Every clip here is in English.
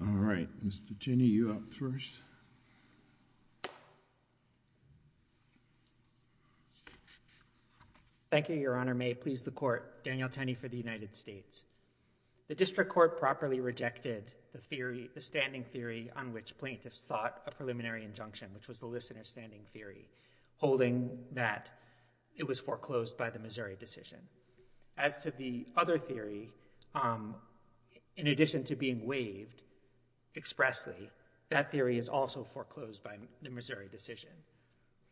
All right, Mr. Tenney, you up first. Thank you, Your Honor. May it please the Court, Daniel Tenney for the United States. The District Court properly rejected the theory, the standing theory on which plaintiffs sought a preliminary injunction, which was the listener standing theory, holding that it was foreclosed by the Missouri decision. As to the other theory, in addition to being waived expressly, that theory is also foreclosed by the Missouri decision.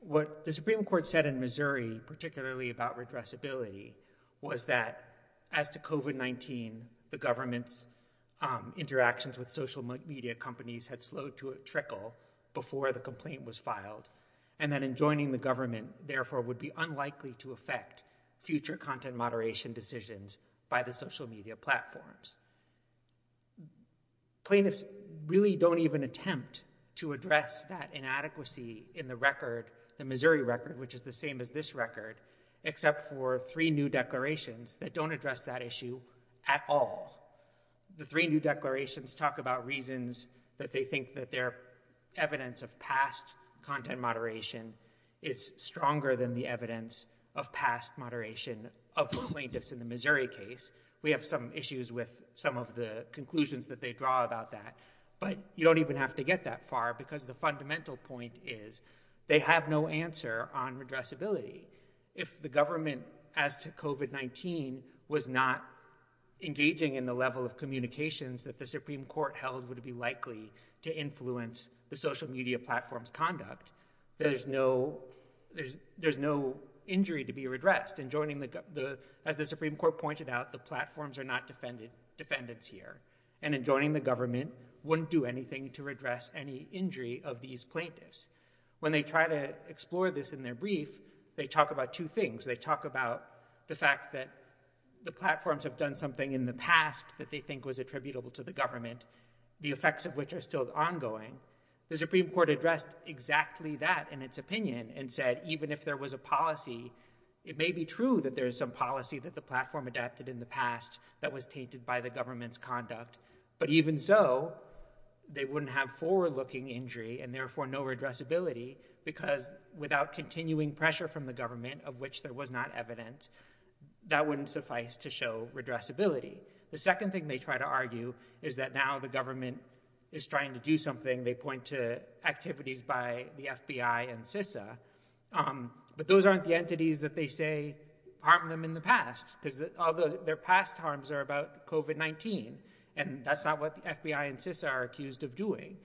What the Supreme Court said in Missouri, particularly about redressability, was that as to COVID-19 the government's interactions with social media companies had slowed to a trickle before the complaint was filed, and that enjoining the government, therefore, would be unlikely to affect future content moderation decisions by the social media platforms. Plaintiffs really don't even attempt to address that inadequacy in the record, the Missouri record, which is the same as this record, except for three new declarations that don't address that issue at all. The three new declarations talk about reasons that they think that their evidence of past content moderation is stronger than the evidence of past moderation of the plaintiffs in the Missouri case. We have some issues with some of the conclusions that they draw about that, but you don't even have to get that far because the fundamental point is they have no answer on redressability. If the government, as to COVID-19, was not engaging in the level of communications that the Supreme Court held would be likely to influence the social media platform's conduct, there's no injury to be redressed. As the Supreme Court pointed out, the platforms are not defendants here, and enjoining the government wouldn't do anything to redress any injury of these plaintiffs. When they try to explore this in their brief, they talk about two things. They talk about the fact that the platforms have done something in the past that they think was attributable to the government, the effects of which are still ongoing. The Supreme Court addressed exactly that in its opinion and said even if there was a policy, it may be true that there is some policy that the platform adapted in the past that was tainted by the government's conduct, but even so, they wouldn't have forward-looking injury and therefore no redressability because without continuing pressure from the government, of which there was not evidence, that wouldn't suffice to show redressability. The second thing they try to argue is that now the government is trying to do something. They point to activities by the FBI and CISA, but those aren't the entities that they say harmed them in the past because all their past harms are about COVID-19, and that's not what the FBI and CISA are accused of doing.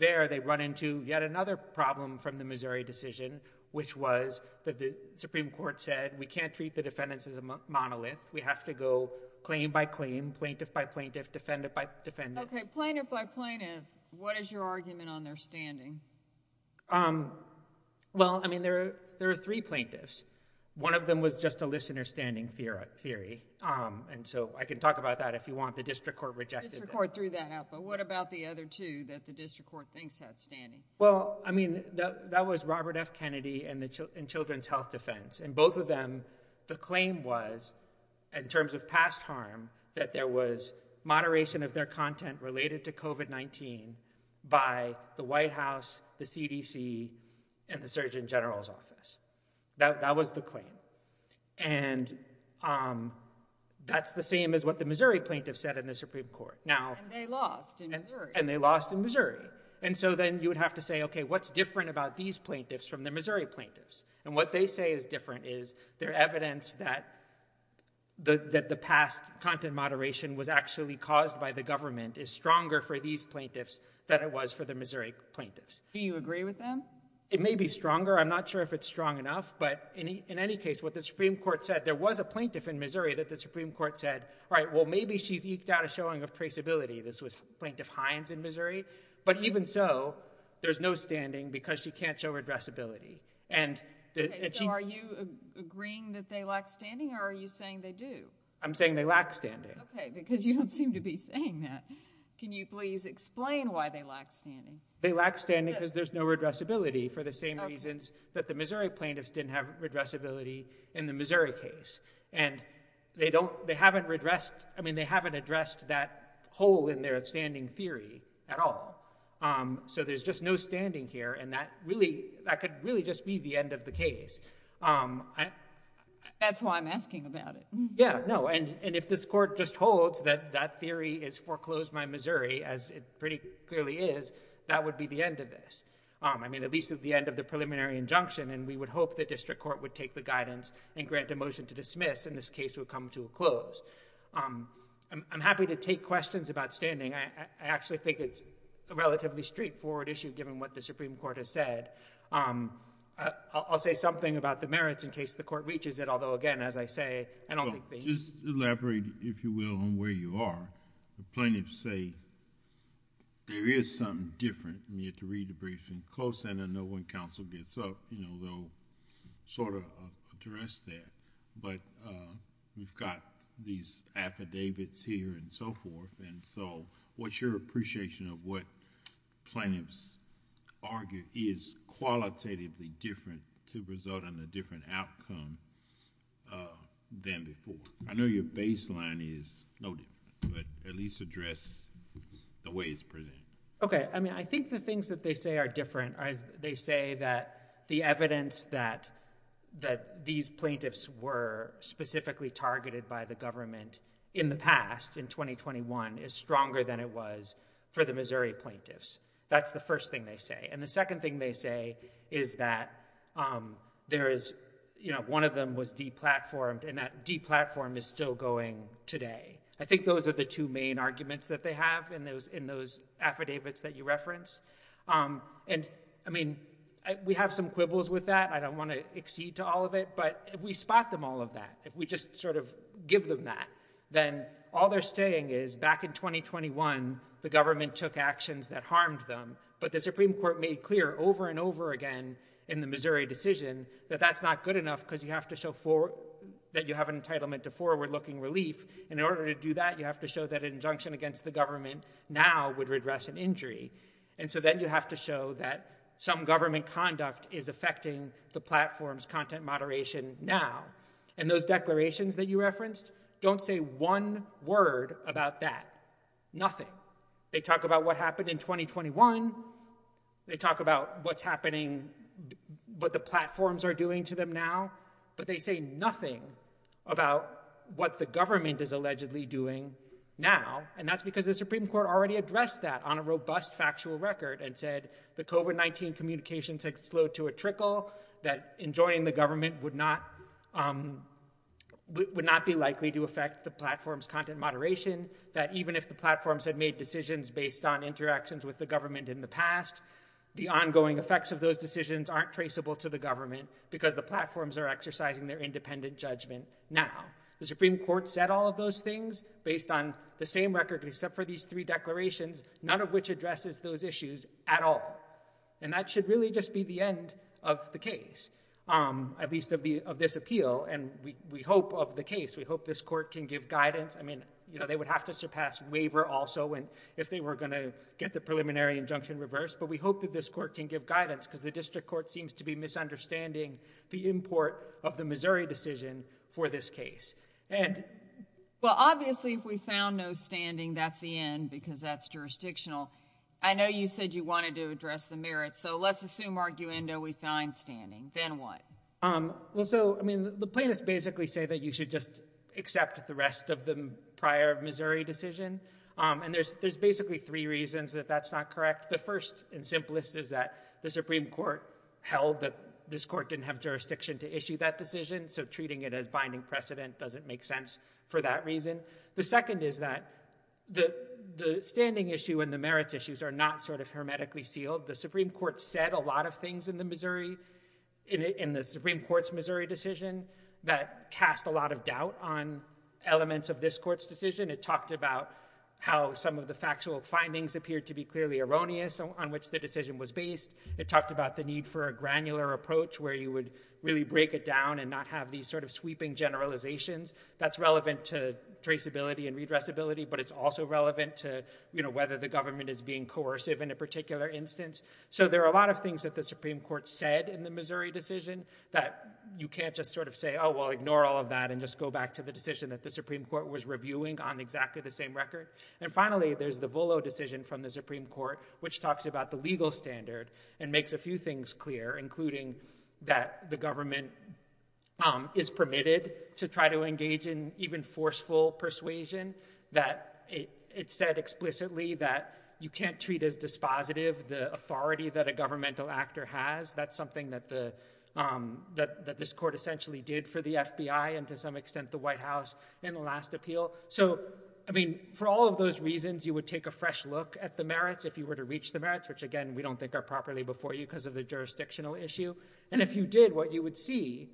There, they run into yet another problem from the Missouri decision, which was that the Supreme Court said, we can't treat the defendants as a monolith. We have to go claim by claim, plaintiff by plaintiff, defendant by defendant. Plaintiff by plaintiff, what is your argument on their standing? Well, I mean, there are three plaintiffs. One of them was just a listener standing theory, and so I can talk about that if you want. The district court rejected that. The district court threw that out, but what about the other two that the district court thinks had standing? Well, I mean, that was Robert F. Kennedy and Children's Health Defense, and both of them, the claim was, in terms of past harm, that there was moderation of their content related to COVID-19 by the White House, the CDC, and the Surgeon General's office. That was the claim, and that's the same as what the Missouri plaintiff said in the Supreme Court. And they lost in Missouri. And they lost in Missouri, and so then you would have to say, okay, what's different about these plaintiffs from the Missouri plaintiffs? And what they say is different is their evidence that the past content moderation was actually caused by the government is stronger for these plaintiffs than it was for the Missouri plaintiffs. Do you agree with them? It may be stronger. I'm not sure if it's strong enough, but in any case, what the Supreme Court said, there was a plaintiff in Missouri that the Supreme Court said, all right, well, maybe she's eked out a showing of traceability. This was Plaintiff Hines in Missouri, but even so, there's no standing because she can't show redressability. Okay, so are you agreeing that they lack standing, or are you saying they do? I'm saying they lack standing. Okay, because you don't seem to be saying that. Can you please explain why they lack standing? They lack standing because there's no redressability, for the same reasons that the Missouri plaintiffs didn't have redressability in the Missouri case. And they haven't addressed that hole in their standing theory at all. So there's just no standing here, and that could really just be the end of the case. That's why I'm asking about it. Yeah, no, and if this court just holds that that theory is foreclosed by Missouri, as it pretty clearly is, that would be the end of this. I mean, at least at the end of the preliminary injunction, and we would hope the district court would take the guidance and grant a motion to dismiss, and this case would come to a close. I'm happy to take questions about standing. I actually think it's a relatively straightforward issue, given what the Supreme Court has said. I'll say something about the merits in case the court reaches it, although, again, as I say, I don't think they need to. Well, just elaborate, if you will, on where you are. The plaintiffs say there is something different, and you have to read the briefing close, and then when counsel gets up, they'll sort of address that, but we've got these affidavits here and so forth, and so what's your appreciation of what plaintiffs argue is qualitatively different to result in a different outcome than before? I know your baseline is no different, but at least address the ways presented. Okay. I mean, I think the things that they say are different. They say that the evidence that these plaintiffs were specifically targeted by the government in the past, in 2021, is stronger than it was for the Missouri plaintiffs. That's the first thing they say, and the second thing they say is that there is, you know, one of them was deplatformed, and that deplatform is still going today. I think those are the two main arguments that they have in those affidavits that you reference, and I mean, we have some quibbles with that. I don't want to accede to all of it, but if we spot them all of that, if we just sort of give them that, then all they're saying is back in 2021, the government took actions that harmed them, but the Supreme Court made clear over and over again in the Missouri decision that that's not good enough because you have to show that you have an entitlement to forward-looking relief, and in order to do that, you have to show that an injunction against the government now would redress an injury, and so then you have to show that some government conduct is affecting the platform's content moderation now, and those declarations that you referenced don't say one word about that, nothing. They talk about what happened in 2021. They talk about what's happening, what the platforms are doing to them now, but they say nothing about what the government is allegedly doing now, and that's because the Supreme Court already addressed that on a robust factual record and said the COVID-19 communications had slowed to a trickle, that enjoining the government would not be likely to affect the platform's content moderation, that even if the platforms had made decisions based on interactions with the government in the past, the ongoing effects of those decisions aren't traceable to the government because the platforms are exercising their independent judgment now. The Supreme Court said all of those things based on the same record except for these three declarations, none of which addresses those issues at all, and that should really just be the end of the case, at least of this appeal, and we hope of the case, we hope this court can give guidance. I mean, you know, they would have to surpass waiver also if they were going to get the preliminary injunction reversed, but we hope that this court can give guidance because the district court seems to be misunderstanding the import of the Missouri decision for this case. And... Well, obviously, if we found no standing, that's the end because that's jurisdictional. I know you said you wanted to address the merits, so let's assume, arguendo, we find standing. Then what? Well, so, I mean, the plaintiffs basically say that you should just accept the rest of the prior Missouri decision, and there's basically three reasons that that's not correct. The first and simplest is that the Supreme Court held that this court didn't have jurisdiction to issue that decision, so treating it as binding precedent doesn't make sense for that reason. The second is that the standing issue and the merits issues are not sort of hermetically sealed. The Supreme Court said a lot of things in the Missouri... in the Supreme Court's Missouri decision that cast a lot of doubt on elements of this court's decision. It talked about how some of the factual findings appeared to be clearly erroneous on which the decision was based. It talked about the need for a granular approach where you would really break it down and not have these sort of sweeping generalizations. That's relevant to traceability and redressability, but it's also relevant to, you know, whether the government is being coercive in a particular instance. So there are a lot of things that the Supreme Court said in the Missouri decision that you can't just sort of say, oh, well, ignore all of that and just go back to the decision that the Supreme Court was reviewing on exactly the same record. And finally, there's the Volo decision from the Supreme Court, which talks about the legal standard and makes a few things clear, including that the government is permitted to try to engage in even forceful persuasion, that it said explicitly that you can't treat as dispositive the authority that a governmental actor has. That's something that the... that this court essentially did for the FBI and to some extent, the White House in the last appeal. So I mean, for all of those reasons, you would take a fresh look at the merits if you were to reach the merits, which again, we don't think are properly before you because of the jurisdictional issue. And if you did, what you would see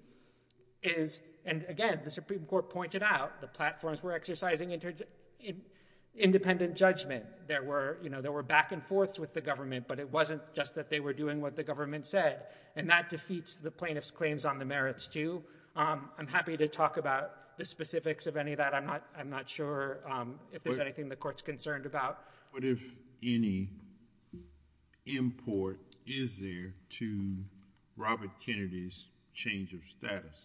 is, and again, the Supreme Court pointed out the platforms were exercising independent judgment. There were, you know, there were back and forth with the government, but it wasn't just that they were doing what the government said. And that defeats the plaintiff's claims on the merits too. I'm happy to talk about the specifics of any of that. I'm not, I'm not sure if there's anything the court's concerned about. What if any import is there to Robert Kennedy's change of status?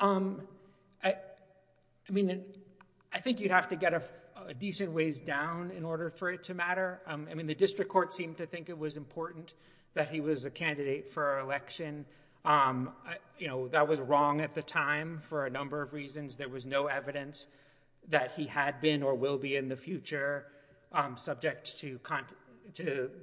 I mean, I think you'd have to get a decent ways down in order for it to matter. I mean, the district court seemed to think it was important that he was a candidate for election. You know, that was wrong at the time for a number of reasons. There was no evidence that he had been or will be in the future subject to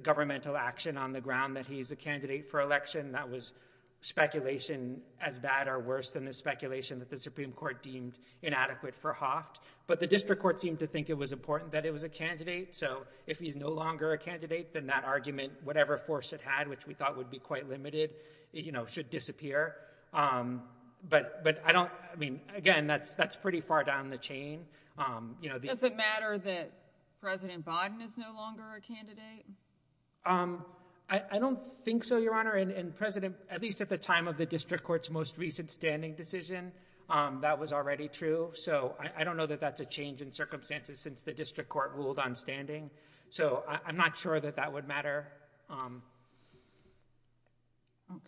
governmental action on the ground that he's a candidate for election. That was speculation as bad or worse than the speculation that the Supreme Court deemed inadequate for Hoft. But the district court seemed to think it was important that it was a candidate. So if he's no longer a candidate, then that argument, whatever force it had, which we thought would be quite limited, you know, should disappear. But I don't, I mean, again, that's, that's pretty far down the chain. You know, Does it matter that President Biden is no longer a candidate? I don't think so, Your Honor, and President, at least at the time of the district court's most recent standing decision, that was already true. So I don't know that that's a change in circumstances since the district court ruled on standing. So I'm not sure that that would matter. Okay.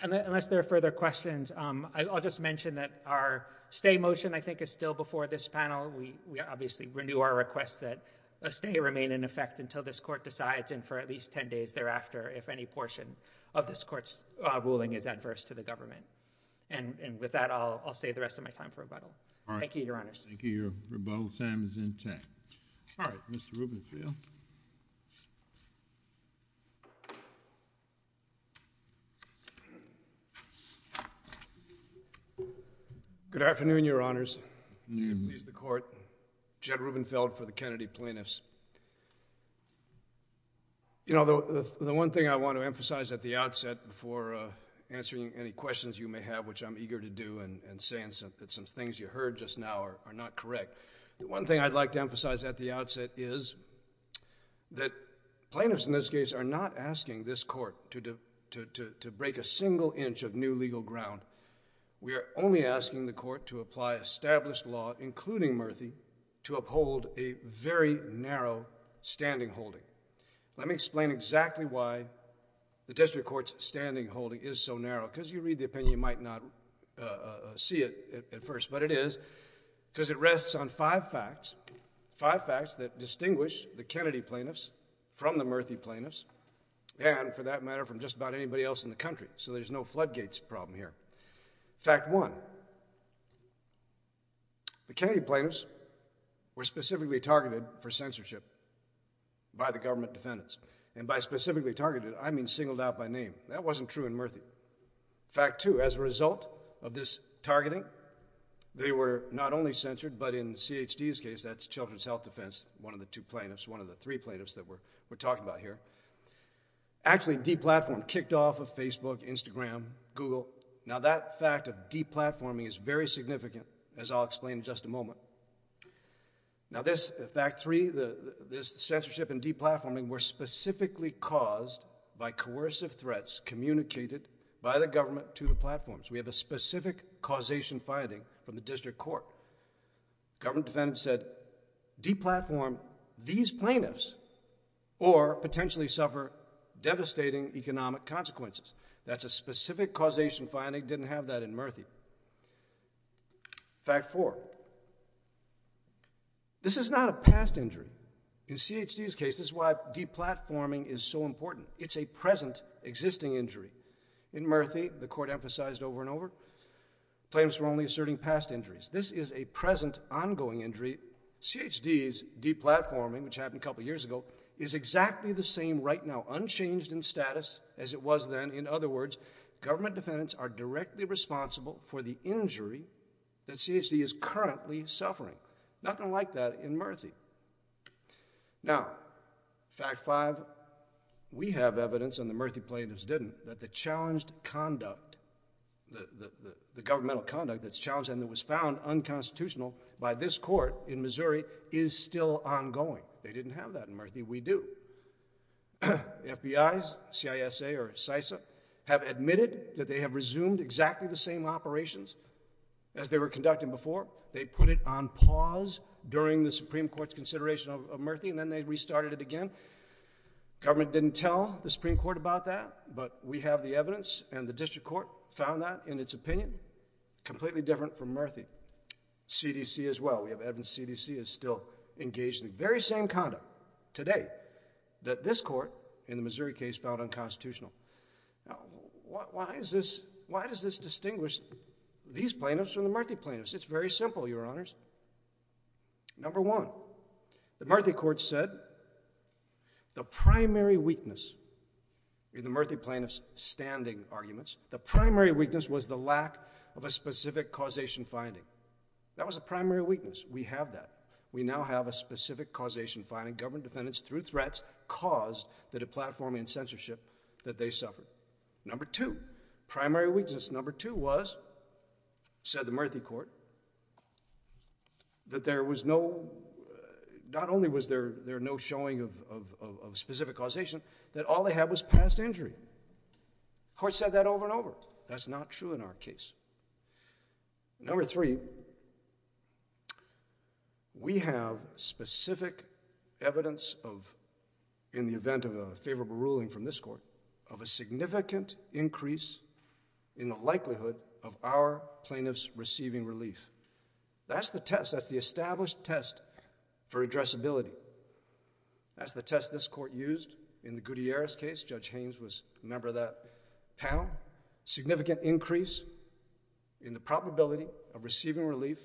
Unless there are further questions, I'll just mention that our stay motion, I think, is still before this panel. We obviously renew our request that a stay remain in effect until this court decides and for at least 10 days thereafter, if any portion of this court's ruling is adverse to the government. And with that, I'll save the rest of my time for rebuttal. Thank you, Your Honors. Thank you. Your rebuttal time is intact. All right. Mr. Rubenfield. Good afternoon, Your Honors. Good afternoon. Please, the court. Jed Rubenfeld for the Kennedy plaintiffs. You know, the one thing I want to emphasize at the outset before answering any questions you may have, which I'm eager to do and saying some things you heard just now are not correct. One thing I'd like to emphasize at the outset is that plaintiffs, in this case, are not asking this court to break a single inch of new legal ground. We are only asking the court to apply established law, including Murthy, to uphold a very narrow standing holding. Let me explain exactly why the district court's standing holding is so narrow, because you might not see it at first, but it is because it rests on five facts, five facts that distinguish the Kennedy plaintiffs from the Murthy plaintiffs, and for that matter, from just about anybody else in the country. So there's no floodgates problem here. Fact one, the Kennedy plaintiffs were specifically targeted for censorship by the government defendants. And by specifically targeted, I mean singled out by name. That wasn't true in Murthy. Fact two, as a result of this targeting, they were not only censored, but in CHD's case, that's Children's Health Defense, one of the two plaintiffs, one of the three plaintiffs that we're talking about here, actually de-platformed, kicked off of Facebook, Instagram, Google. Now that fact of de-platforming is very significant, as I'll explain in just a moment. Now this, fact three, this censorship and de-platforming were specifically caused by coercive threats communicated by the government to the platforms. We have a specific causation finding from the district court. Government defendants said, de-platform these plaintiffs or potentially suffer devastating economic consequences. That's a specific causation finding, didn't have that in Murthy. Fact four, this is not a past injury. In CHD's case, this is why de-platforming is so important. It's a present existing injury. In Murthy, the court emphasized over and over, plaintiffs were only asserting past injuries. This is a present ongoing injury. CHD's de-platforming, which happened a couple years ago, is exactly the same right now, unchanged in status as it was then. In other words, government defendants are directly responsible for the injury that CHD is currently suffering. Nothing like that in Murthy. Now, fact five, we have evidence, and the Murthy plaintiffs didn't, that the challenged conduct, the governmental conduct that's challenged and that was found unconstitutional by this court in Missouri is still ongoing. They didn't have that in Murthy, we do. The FBI's, CISA or CISA, have admitted that they have resumed exactly the same operations as they were conducting before. They put it on pause during the Supreme Court's consideration of Murthy and then they restarted it again. Government didn't tell the Supreme Court about that, but we have the evidence and the District Court found that, in its opinion, completely different from Murthy. CDC as well, we have evidence CDC is still engaged in the very same conduct today that this court, in the Missouri case, found unconstitutional. Why is this, why does this distinguish these plaintiffs from the Murthy plaintiffs? It's very simple, Your Honors. Number one, the Murthy court said the primary weakness in the Murthy plaintiffs' standing arguments, the primary weakness was the lack of a specific causation finding. That was a primary weakness, we have that. We now have a specific causation finding, government defendants through threats caused the deplatforming and censorship that they suffered. Number two, primary weakness number two was, said the Murthy court, that there was no... not only was there no showing of specific causation, that all they had was past injury. The court said that over and over. That's not true in our case. Number three, we have specific evidence of, in the event of a favorable ruling from this court, of a significant increase in the likelihood of our plaintiffs receiving relief. That's the test, that's the established test for addressability. That's the test this court used in the Gutierrez case. Judge Haynes was a member of that panel. Significant increase in the probability of receiving relief.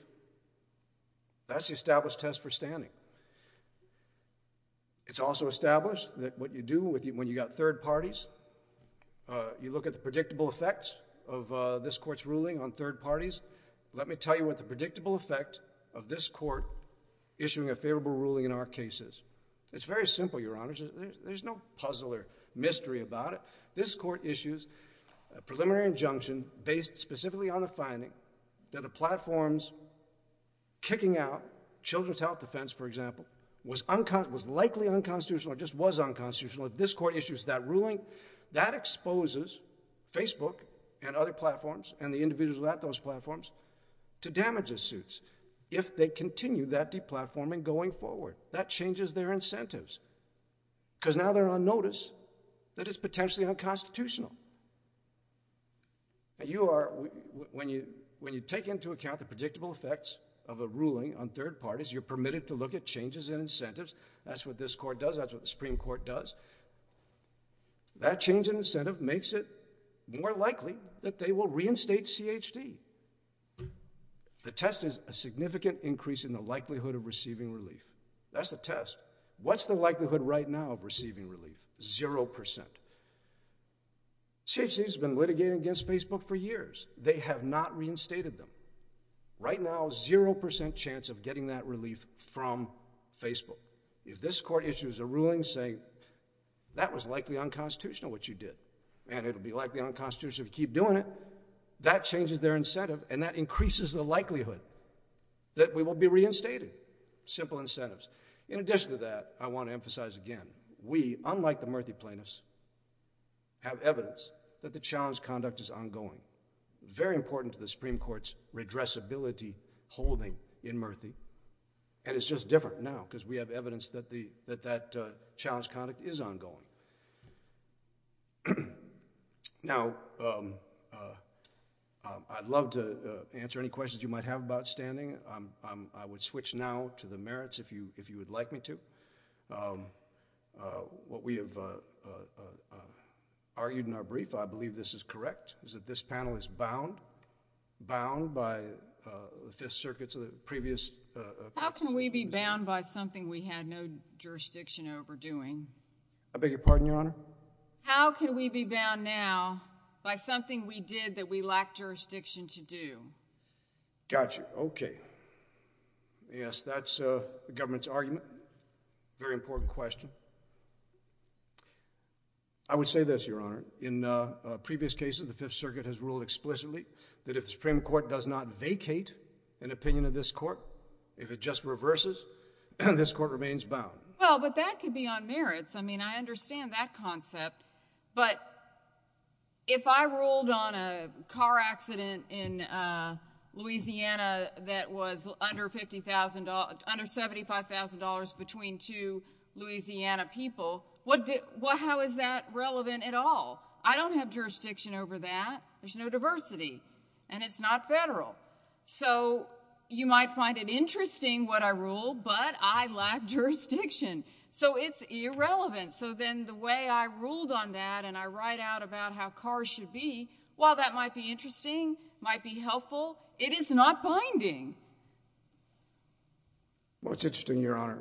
That's the established test for standing. It's also established that what you do when you've got third parties, you look at the predictable effects of this court's ruling on third parties. Let me tell you what the predictable effect of this court issuing a favorable ruling in our case is. It's very simple, Your Honor, there's no puzzle or mystery about it. This court issues a preliminary injunction based specifically on a finding that a platform's breaking out, children's health defense, for example, was likely unconstitutional or just was unconstitutional. If this court issues that ruling, that exposes Facebook and other platforms and the individuals who are at those platforms to damages suits if they continue that deplatforming going forward. That changes their incentives because now they're on notice that it's potentially unconstitutional. Now you are, when you take into account the predictable effects of a ruling on third parties, you're permitted to look at changes in incentives. That's what this court does, that's what the Supreme Court does. That change in incentive makes it more likely that they will reinstate CHD. The test is a significant increase in the likelihood of receiving relief. That's the test. What's the likelihood right now of receiving relief? Zero percent. CHD has been litigating against Facebook for years. They have not reinstated them. Right now, zero percent chance of getting that relief from Facebook. If this court issues a ruling saying that was likely unconstitutional, what you did, and it'll be likely unconstitutional if you keep doing it, that changes their incentive and that increases the likelihood that we will be reinstated. Simple incentives. In addition to that, I want to emphasize again, we, unlike the Murthy plaintiffs, have evidence that the challenge conduct is ongoing. Very important to the Supreme Court's redressability holding in Murthy, and it's just different now because we have evidence that that challenge conduct is ongoing. Now I'd love to answer any questions you might have about standing. I would switch now to the merits if you would like me to. What we have argued in our brief, I believe this is correct, is that this panel is bound by the Fifth Circuit's previous... How can we be bound by something we had no jurisdiction over doing? I beg your pardon, Your Honor? How can we be bound now by something we did that we lacked jurisdiction to do? Got you. Okay. Yes, that's the government's argument, very important question. I would say this, Your Honor, in previous cases, the Fifth Circuit has ruled explicitly that if the Supreme Court does not vacate an opinion of this court, if it just reverses, this court remains bound. Well, but that could be on merits. I mean, I understand that concept, but if I ruled on a car accident in Louisiana that was under $75,000 between two Louisiana people, how is that relevant at all? I don't have jurisdiction over that. There's no diversity, and it's not federal. So you might find it interesting what I ruled, but I lacked jurisdiction. So it's irrelevant. So then the way I ruled on that and I write out about how cars should be, while that might be interesting, might be helpful, it is not binding. Well, it's interesting, Your Honor.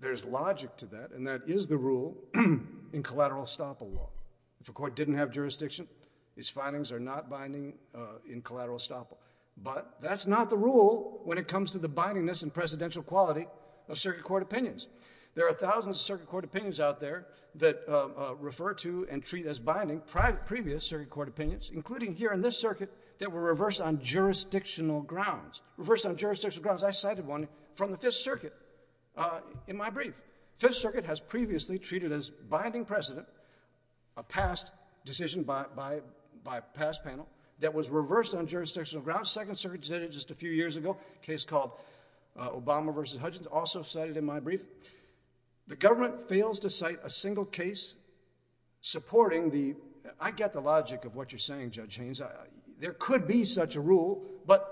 There's logic to that, and that is the rule in collateral estoppel law. If a court didn't have jurisdiction, its findings are not binding in collateral estoppel. But that's not the rule when it comes to the bindingness and presidential quality of circuit court opinions. There are thousands of circuit court opinions out there that refer to and treat as binding previous circuit court opinions, including here in this circuit, that were reversed on jurisdictional grounds. Reversed on jurisdictional grounds, I cited one from the Fifth Circuit in my brief. Fifth Circuit has previously treated as binding precedent a past decision by a past jurisdictional grounds. Second Circuit did it just a few years ago, a case called Obama v. Hudgens, also cited in my brief. The government fails to cite a single case supporting the... I get the logic of what you're saying, Judge Haynes. There could be such a rule, but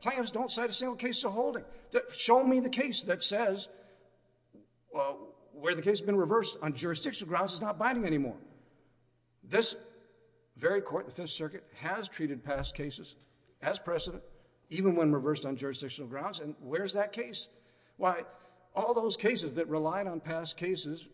plans don't cite a single case to hold it. Show me the case that says where the case has been reversed on jurisdictional grounds is not binding anymore. This very court, the Fifth Circuit, has treated past cases as precedent, even when reversed on jurisdictional grounds, and where's that case? Why, all those cases that relied on past cases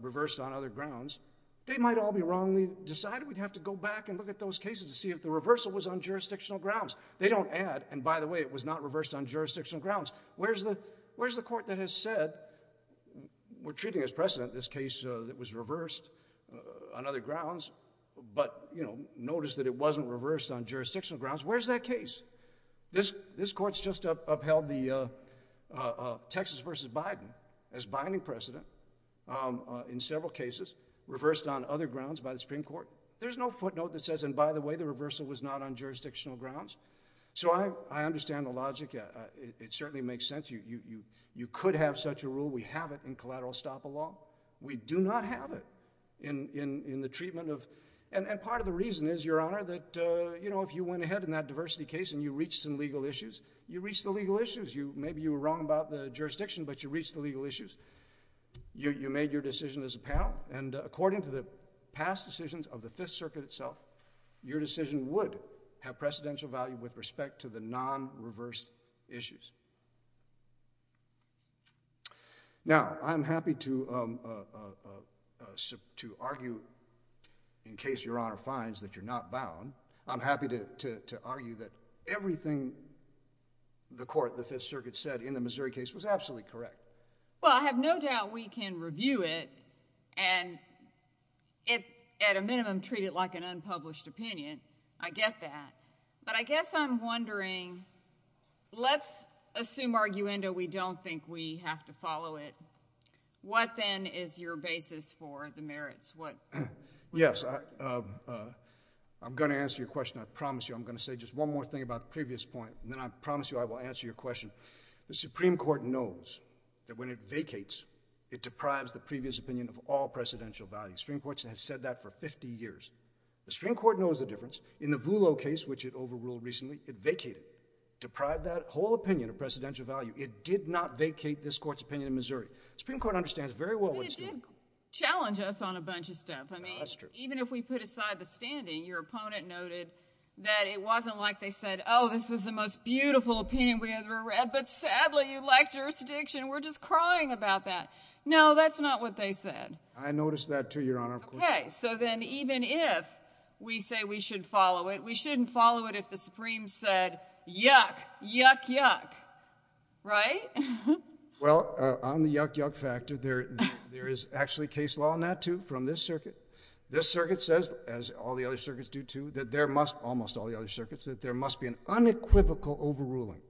reversed on other grounds, they might all be wrong. We decided we'd have to go back and look at those cases to see if the reversal was on jurisdictional grounds. They don't add, and by the way, it was not reversed on jurisdictional grounds. Where's the court that has said, we're treating as precedent this case that was reversed on other grounds, but notice that it wasn't reversed on jurisdictional grounds. Where's that case? This court's just upheld the Texas v. Biden as binding precedent in several cases, reversed on other grounds by the Supreme Court. There's no footnote that says, and by the way, the reversal was not on jurisdictional grounds. So I understand the logic. It certainly makes sense. You could have such a rule. We have it in collateral estoppel law. We do not have it in the treatment of... and part of the reason is, Your Honor, that if you went ahead in that diversity case and you reached some legal issues, you reached the legal issues. Maybe you were wrong about the jurisdiction, but you reached the legal issues. You made your decision as a panel, and according to the past decisions of the Fifth Circuit itself, your decision would have precedential value with respect to the non-reversed issues. Now, I'm happy to argue, in case Your Honor finds that you're not bound, I'm happy to argue that everything the court, the Fifth Circuit, said in the Missouri case was absolutely correct. Well, I have no doubt we can review it and at a minimum treat it like an unpublished opinion. I get that. But I guess I'm wondering, let's assume arguendo we don't think we have to follow it. What then is your basis for the merits? What... Yes. I'm going to answer your question. I promise you. I'm going to say just one more thing about the previous point, and then I promise you I will answer your question. The Supreme Court knows that when it vacates, it deprives the previous opinion of all precedential value. The Supreme Court has said that for fifty years. The Supreme Court knows the difference. In the Voolo case, which it overruled recently, it vacated, deprived that whole opinion of precedential value. It did not vacate this court's opinion in Missouri. The Supreme Court understands very well what it's doing. But it did challenge us on a bunch of stuff. I mean... No, that's true. Even if we put aside the standing, your opponent noted that it wasn't like they said, oh, this was the most beautiful opinion we ever read, but sadly you lacked jurisdiction. We're just crying about that. No, that's not what they said. I noticed that too, Your Honor. Okay. So then even if we say we should follow it, we shouldn't follow it if the Supreme said, yuck, yuck, yuck. Right? Well, on the yuck, yuck factor, there is actually case law on that too from this circuit. This circuit says, as all the other circuits do too, that there must, almost all the other circuits, that there must be an unequivocal overruling.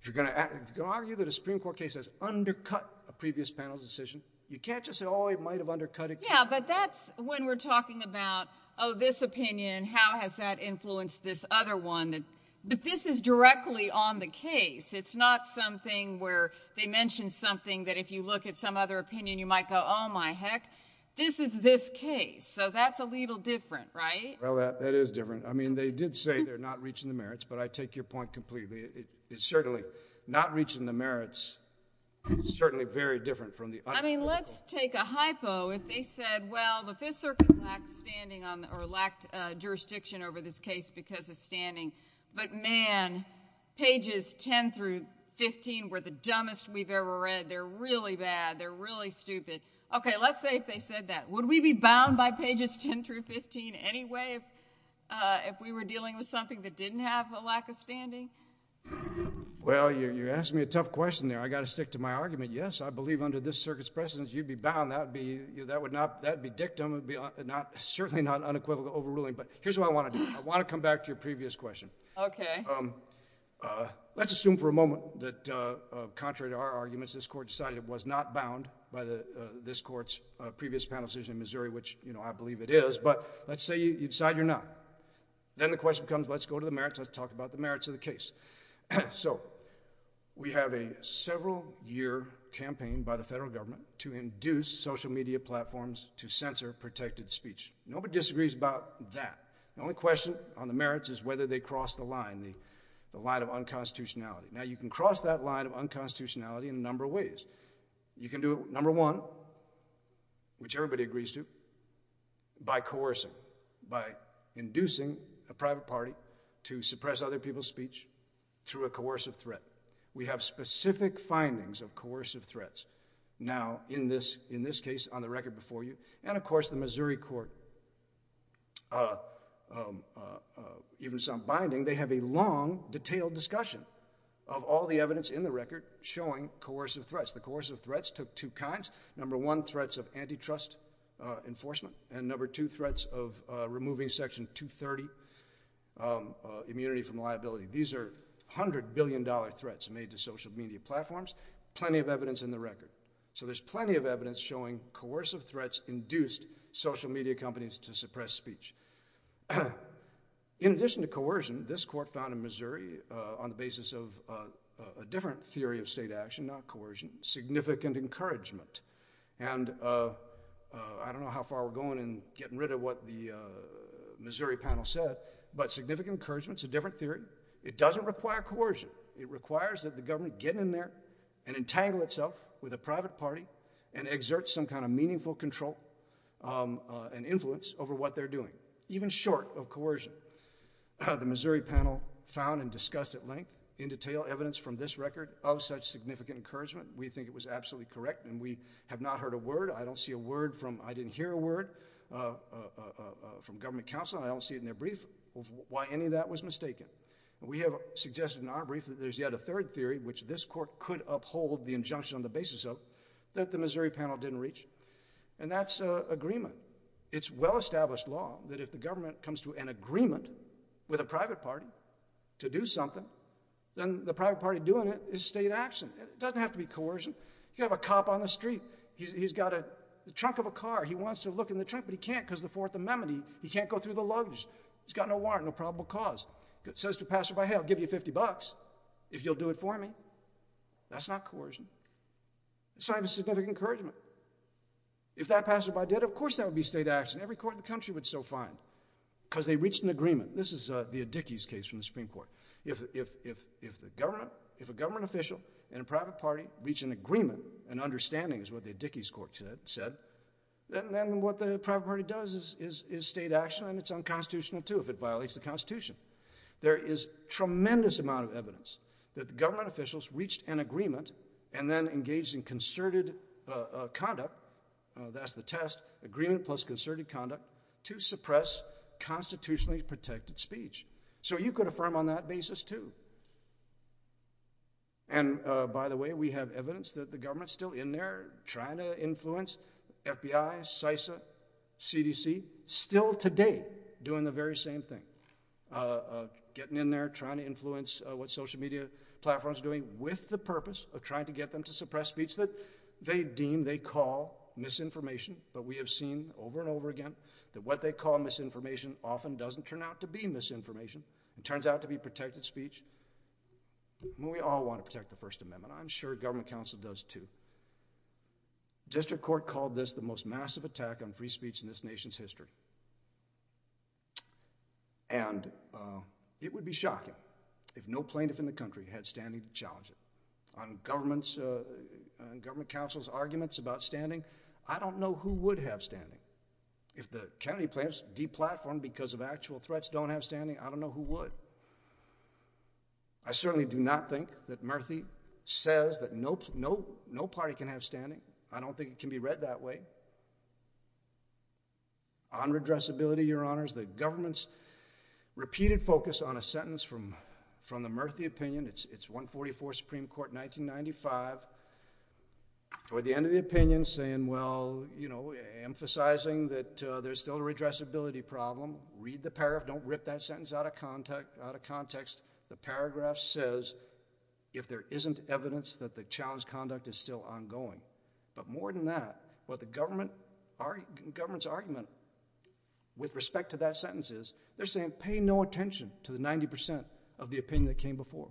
If you're going to argue that a Supreme Court case has undercut a previous panel's decision, you can't just say, oh, it might have undercut it. Yeah, but that's when we're talking about, oh, this opinion, how has that influenced this other one? But this is directly on the case. It's not something where they mention something that if you look at some other opinion, you might go, oh, my heck, this is this case. So that's a little different, right? Well, that is different. I mean, they did say they're not reaching the merits, but I take your point completely. It's certainly not reaching the merits. It's certainly very different from the other. I mean, let's take a hypo if they said, well, the Fifth Circuit lacked standing or lacked jurisdiction over this case because of standing. But man, pages 10 through 15 were the dumbest we've ever read. They're really bad. They're really stupid. Okay, let's say if they said that. Would we be bound by pages 10 through 15 anyway if we were dealing with something that didn't have a lack of standing? Well, you're asking me a tough question there. I've got to stick to my argument. Yes, I believe under this Circuit's precedence, you'd be bound. That would be dictum, certainly not unequivocal overruling. But here's what I want to do. I want to come back to your previous question. Okay. Let's assume for a moment that contrary to our arguments, this Court decided it was not bound by this Court's previous panel decision in Missouri, which I believe it is. But let's say you decide you're not. Then the question becomes, let's go to the merits. Let's talk about the merits of the case. We have a several-year campaign by the federal government to induce social media platforms to censor protected speech. Nobody disagrees about that. The only question on the merits is whether they cross the line, the line of unconstitutionality. Now, you can cross that line of unconstitutionality in a number of ways. You can do it, number one, which everybody agrees to, by coercion, by inducing a private party to suppress other people's speech through a coercive threat. We have specific findings of coercive threats. Now, in this case on the record before you, and, of course, the Missouri court, even some binding, they have a long, detailed discussion of all the evidence in the record showing coercive threats. The coercive threats took two kinds. Number one, threats of antitrust enforcement. And number two, threats of removing Section 230, immunity from liability. These are $100 billion threats made to social media platforms, plenty of evidence in the record. So there's plenty of evidence showing coercive threats induced social media companies to suppress speech. In addition to coercion, this court found in Missouri, on the basis of a different theory of state action, not coercion, significant encouragement. And I don't know how far we're going in getting rid of what the Missouri panel said, but significant encouragement is a different theory. It doesn't require coercion. It requires that the government get in there and entangle itself with a private party and exert some kind of meaningful control and influence over what they're doing, even short of coercion. The Missouri panel found and discussed at length, in detail, evidence from this record of such significant encouragement. We think it was absolutely correct, and we have not heard a word. I don't see a word from – I didn't hear a word from government counsel, and I don't see it in their brief, why any of that was mistaken. And we have suggested in our brief that there's yet a third theory, which this court could uphold the injunction on the basis of, that the Missouri panel didn't reach. And that's agreement. It's well-established law that if the government comes to an agreement with a private party to do something, then the private party doing it is state action. It doesn't have to be coercion. You could have a cop on the street. He's got the trunk of a car. He wants to look in the trunk, but he can't because of the Fourth Amendment. He can't go through the luggage. He's got no warrant, no probable cause. He says to a passerby, hey, I'll give you 50 bucks if you'll do it for me. That's not coercion. It's not even significant encouragement. If that passerby did it, of course that would be state action. Every court in the country would still find, because they reached an agreement. This is the Adichies case from the Supreme Court. If a government official and a private party reach an agreement, an understanding is what the Adichies court said, then what the private party does is state action, and it's unconstitutional, too, if it violates the Constitution. There is tremendous amount of evidence that the government officials reached an agreement and then engaged in concerted conduct. That's the test, agreement plus concerted conduct to suppress constitutionally protected speech. So you could affirm on that basis, too. And, by the way, we have evidence that the government's still in there trying to influence FBI, CISA, CDC, still today doing the very same thing, getting in there, trying to influence what social media platforms are doing with the purpose of trying to get them to suppress speech that they deem, they call misinformation. But we have seen over and over again that what they call misinformation often doesn't turn out to be misinformation. It turns out to be protected speech. We all want to protect the First Amendment. I'm sure government counsel does, too. District Court called this the most massive attack on free speech in this nation's history. And it would be shocking if no plaintiff in the country had standing to challenge it. On government counsel's arguments about standing, I don't know who would have standing. If the Kennedy plaintiffs deplatformed because of actual threats, don't have standing, I don't know who would. I certainly do not think that Murthy says that no party can have standing. I don't think it can be read that way. On redressability, Your Honors, the government's repeated focus on a sentence from the Murthy opinion, it's 144, Supreme Court, 1995, or the end of the opinion saying, well, you know, emphasizing that there's still a redressability problem. Read the paragraph. Don't rip that sentence out of context. The paragraph says, if there isn't evidence that the challenge conduct is still ongoing. But more than that, what the government's argument with respect to that sentence is, they're saying, pay no attention to the 90% of the opinion that came before.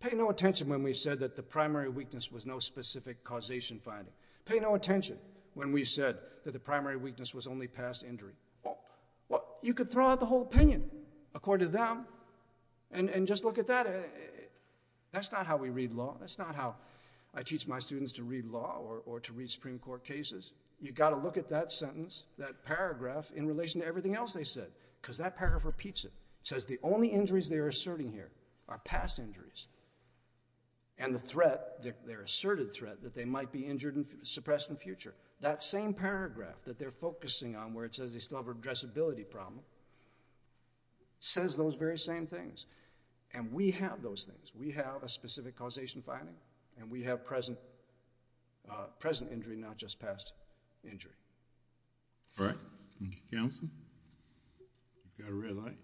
Pay no attention when we said that the primary weakness was no specific causation finding. Pay no attention when we said that the primary weakness was only past injury. You could throw out the whole opinion according to them and just look at that. That's not how we read law. That's not how I teach my students to read law or to read Supreme Court cases. You've got to look at that sentence, that paragraph, in relation to everything else they said, because that paragraph repeats it. It says the only injuries they're asserting here are past injuries. And the threat, their asserted threat, that they might be injured and suppressed in the future. That same paragraph that they're focusing on, where it says they still have a redressability problem, says those very same things. And we have those things. We have a specific causation finding, and we have present injury, not just past injury. All right. Thank you, counsel. You've got a red light.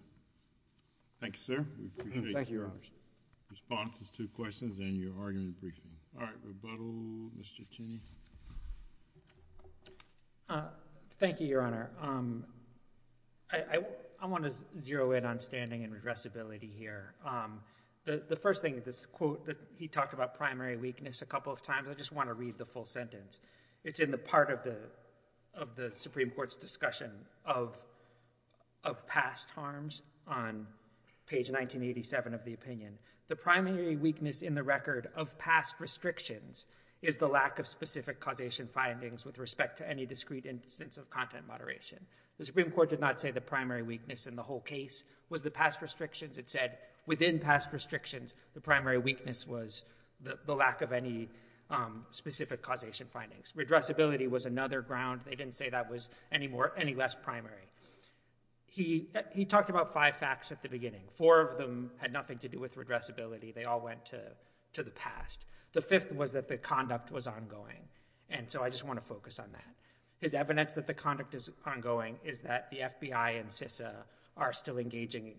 Thank you, sir. We appreciate your responses to questions and your argument briefing. All right. Rebuttal. Mr. Cheney. Thank you, Your Honor. I want to zero in on standing and redressability here. The first thing, this quote that he talked about primary weakness a couple of times, I just want to read the full sentence. It's in the part of the Supreme Court's discussion of past harms on page 1987 of the opinion. The primary weakness in the record of past restrictions is the lack of specific causation findings with respect to any discrete instance of content moderation. The Supreme Court did not say the primary weakness in the whole case was the past restrictions. It said within past restrictions, the primary weakness was the lack of any specific causation findings. Redressability was another ground. They didn't say that was any less primary. He talked about five facts at the beginning. Four of them had nothing to do with redressability. They all went to the past. The fifth was that the conduct was ongoing. And so I just want to focus on that. His evidence that the conduct is ongoing is that the FBI and CISA are still engaging.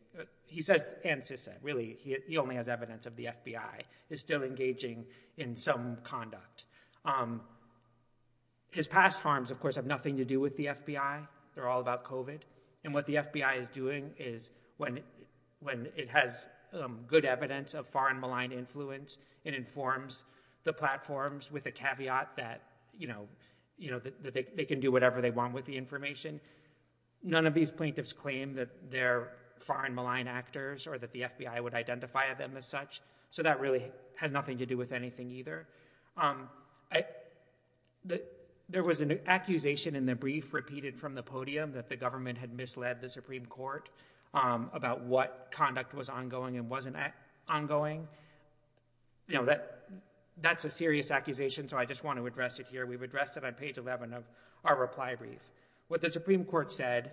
He says, and CISA. Really, he only has evidence of the FBI is still engaging in some conduct. His past harms, of course, have nothing to do with the FBI. They're all about COVID. And what the FBI is doing is when it has good evidence of foreign malign influence, it informs the platforms with the caveat that they can do whatever they want with the information. None of these plaintiffs claim that they're foreign malign actors or that the FBI would identify them as such. So that really has nothing to do with anything either. There was an accusation in the brief repeated from the podium that the government had misled the Supreme Court about what conduct was ongoing and wasn't ongoing. You know, that's a serious accusation, so I just want to address it here. We've addressed it on page 11 of our reply brief. What the Supreme Court said,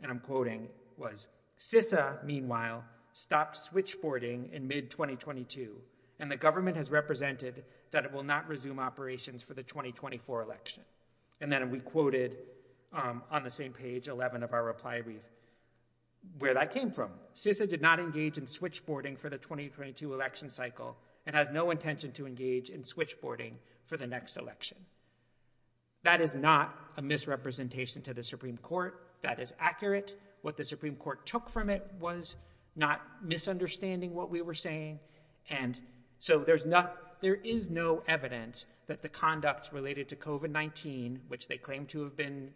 and I'm quoting, was, CISA, meanwhile, stopped switchboarding in mid-2022, and the government has represented that it will not resume operations for the 2024 election. And then we quoted on the same page, 11 of our reply brief, where that came from. CISA did not engage in switchboarding for the 2022 election cycle and has no intention to engage in switchboarding for the next election. That is not a misrepresentation to the Supreme Court. That is accurate. What the Supreme Court took from it was not misunderstanding what we were saying, and so there is no evidence that the conduct related to COVID-19, which they claim to have been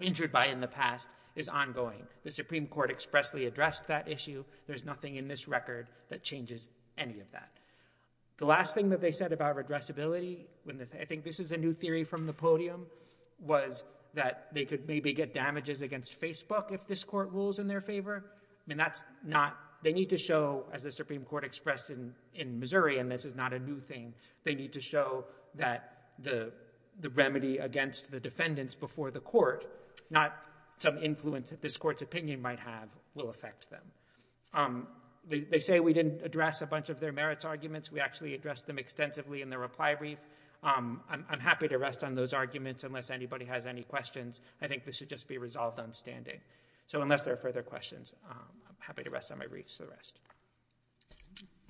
injured by in the past, is ongoing. The Supreme Court expressly addressed that issue. There's nothing in this record that changes any of that. The last thing that they said about redressability, I think this is a new theory from the podium, was that they could maybe get damages against Facebook if this court rules in their favor. I mean, that's not... They need to show, as the Supreme Court expressed in Missouri, and this is not a new thing, they need to show that the remedy against the defendants before the court, not some influence that this court's opinion might have, will affect them. They say we didn't address a bunch of their merits arguments. We actually addressed them extensively in the reply brief. I'm happy to rest on those arguments unless anybody has any questions. I think this should just be resolved on standing. So unless there are further questions, I'm happy to rest on my briefs for the rest.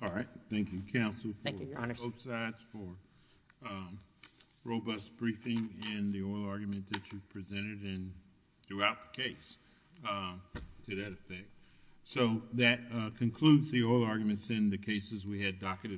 All right. Thank you, counsel. Thank you, Your Honor. Both sides for robust briefing in the oral argument that you presented and throughout the case to that effect. So that concludes the oral arguments in the cases we had docketed.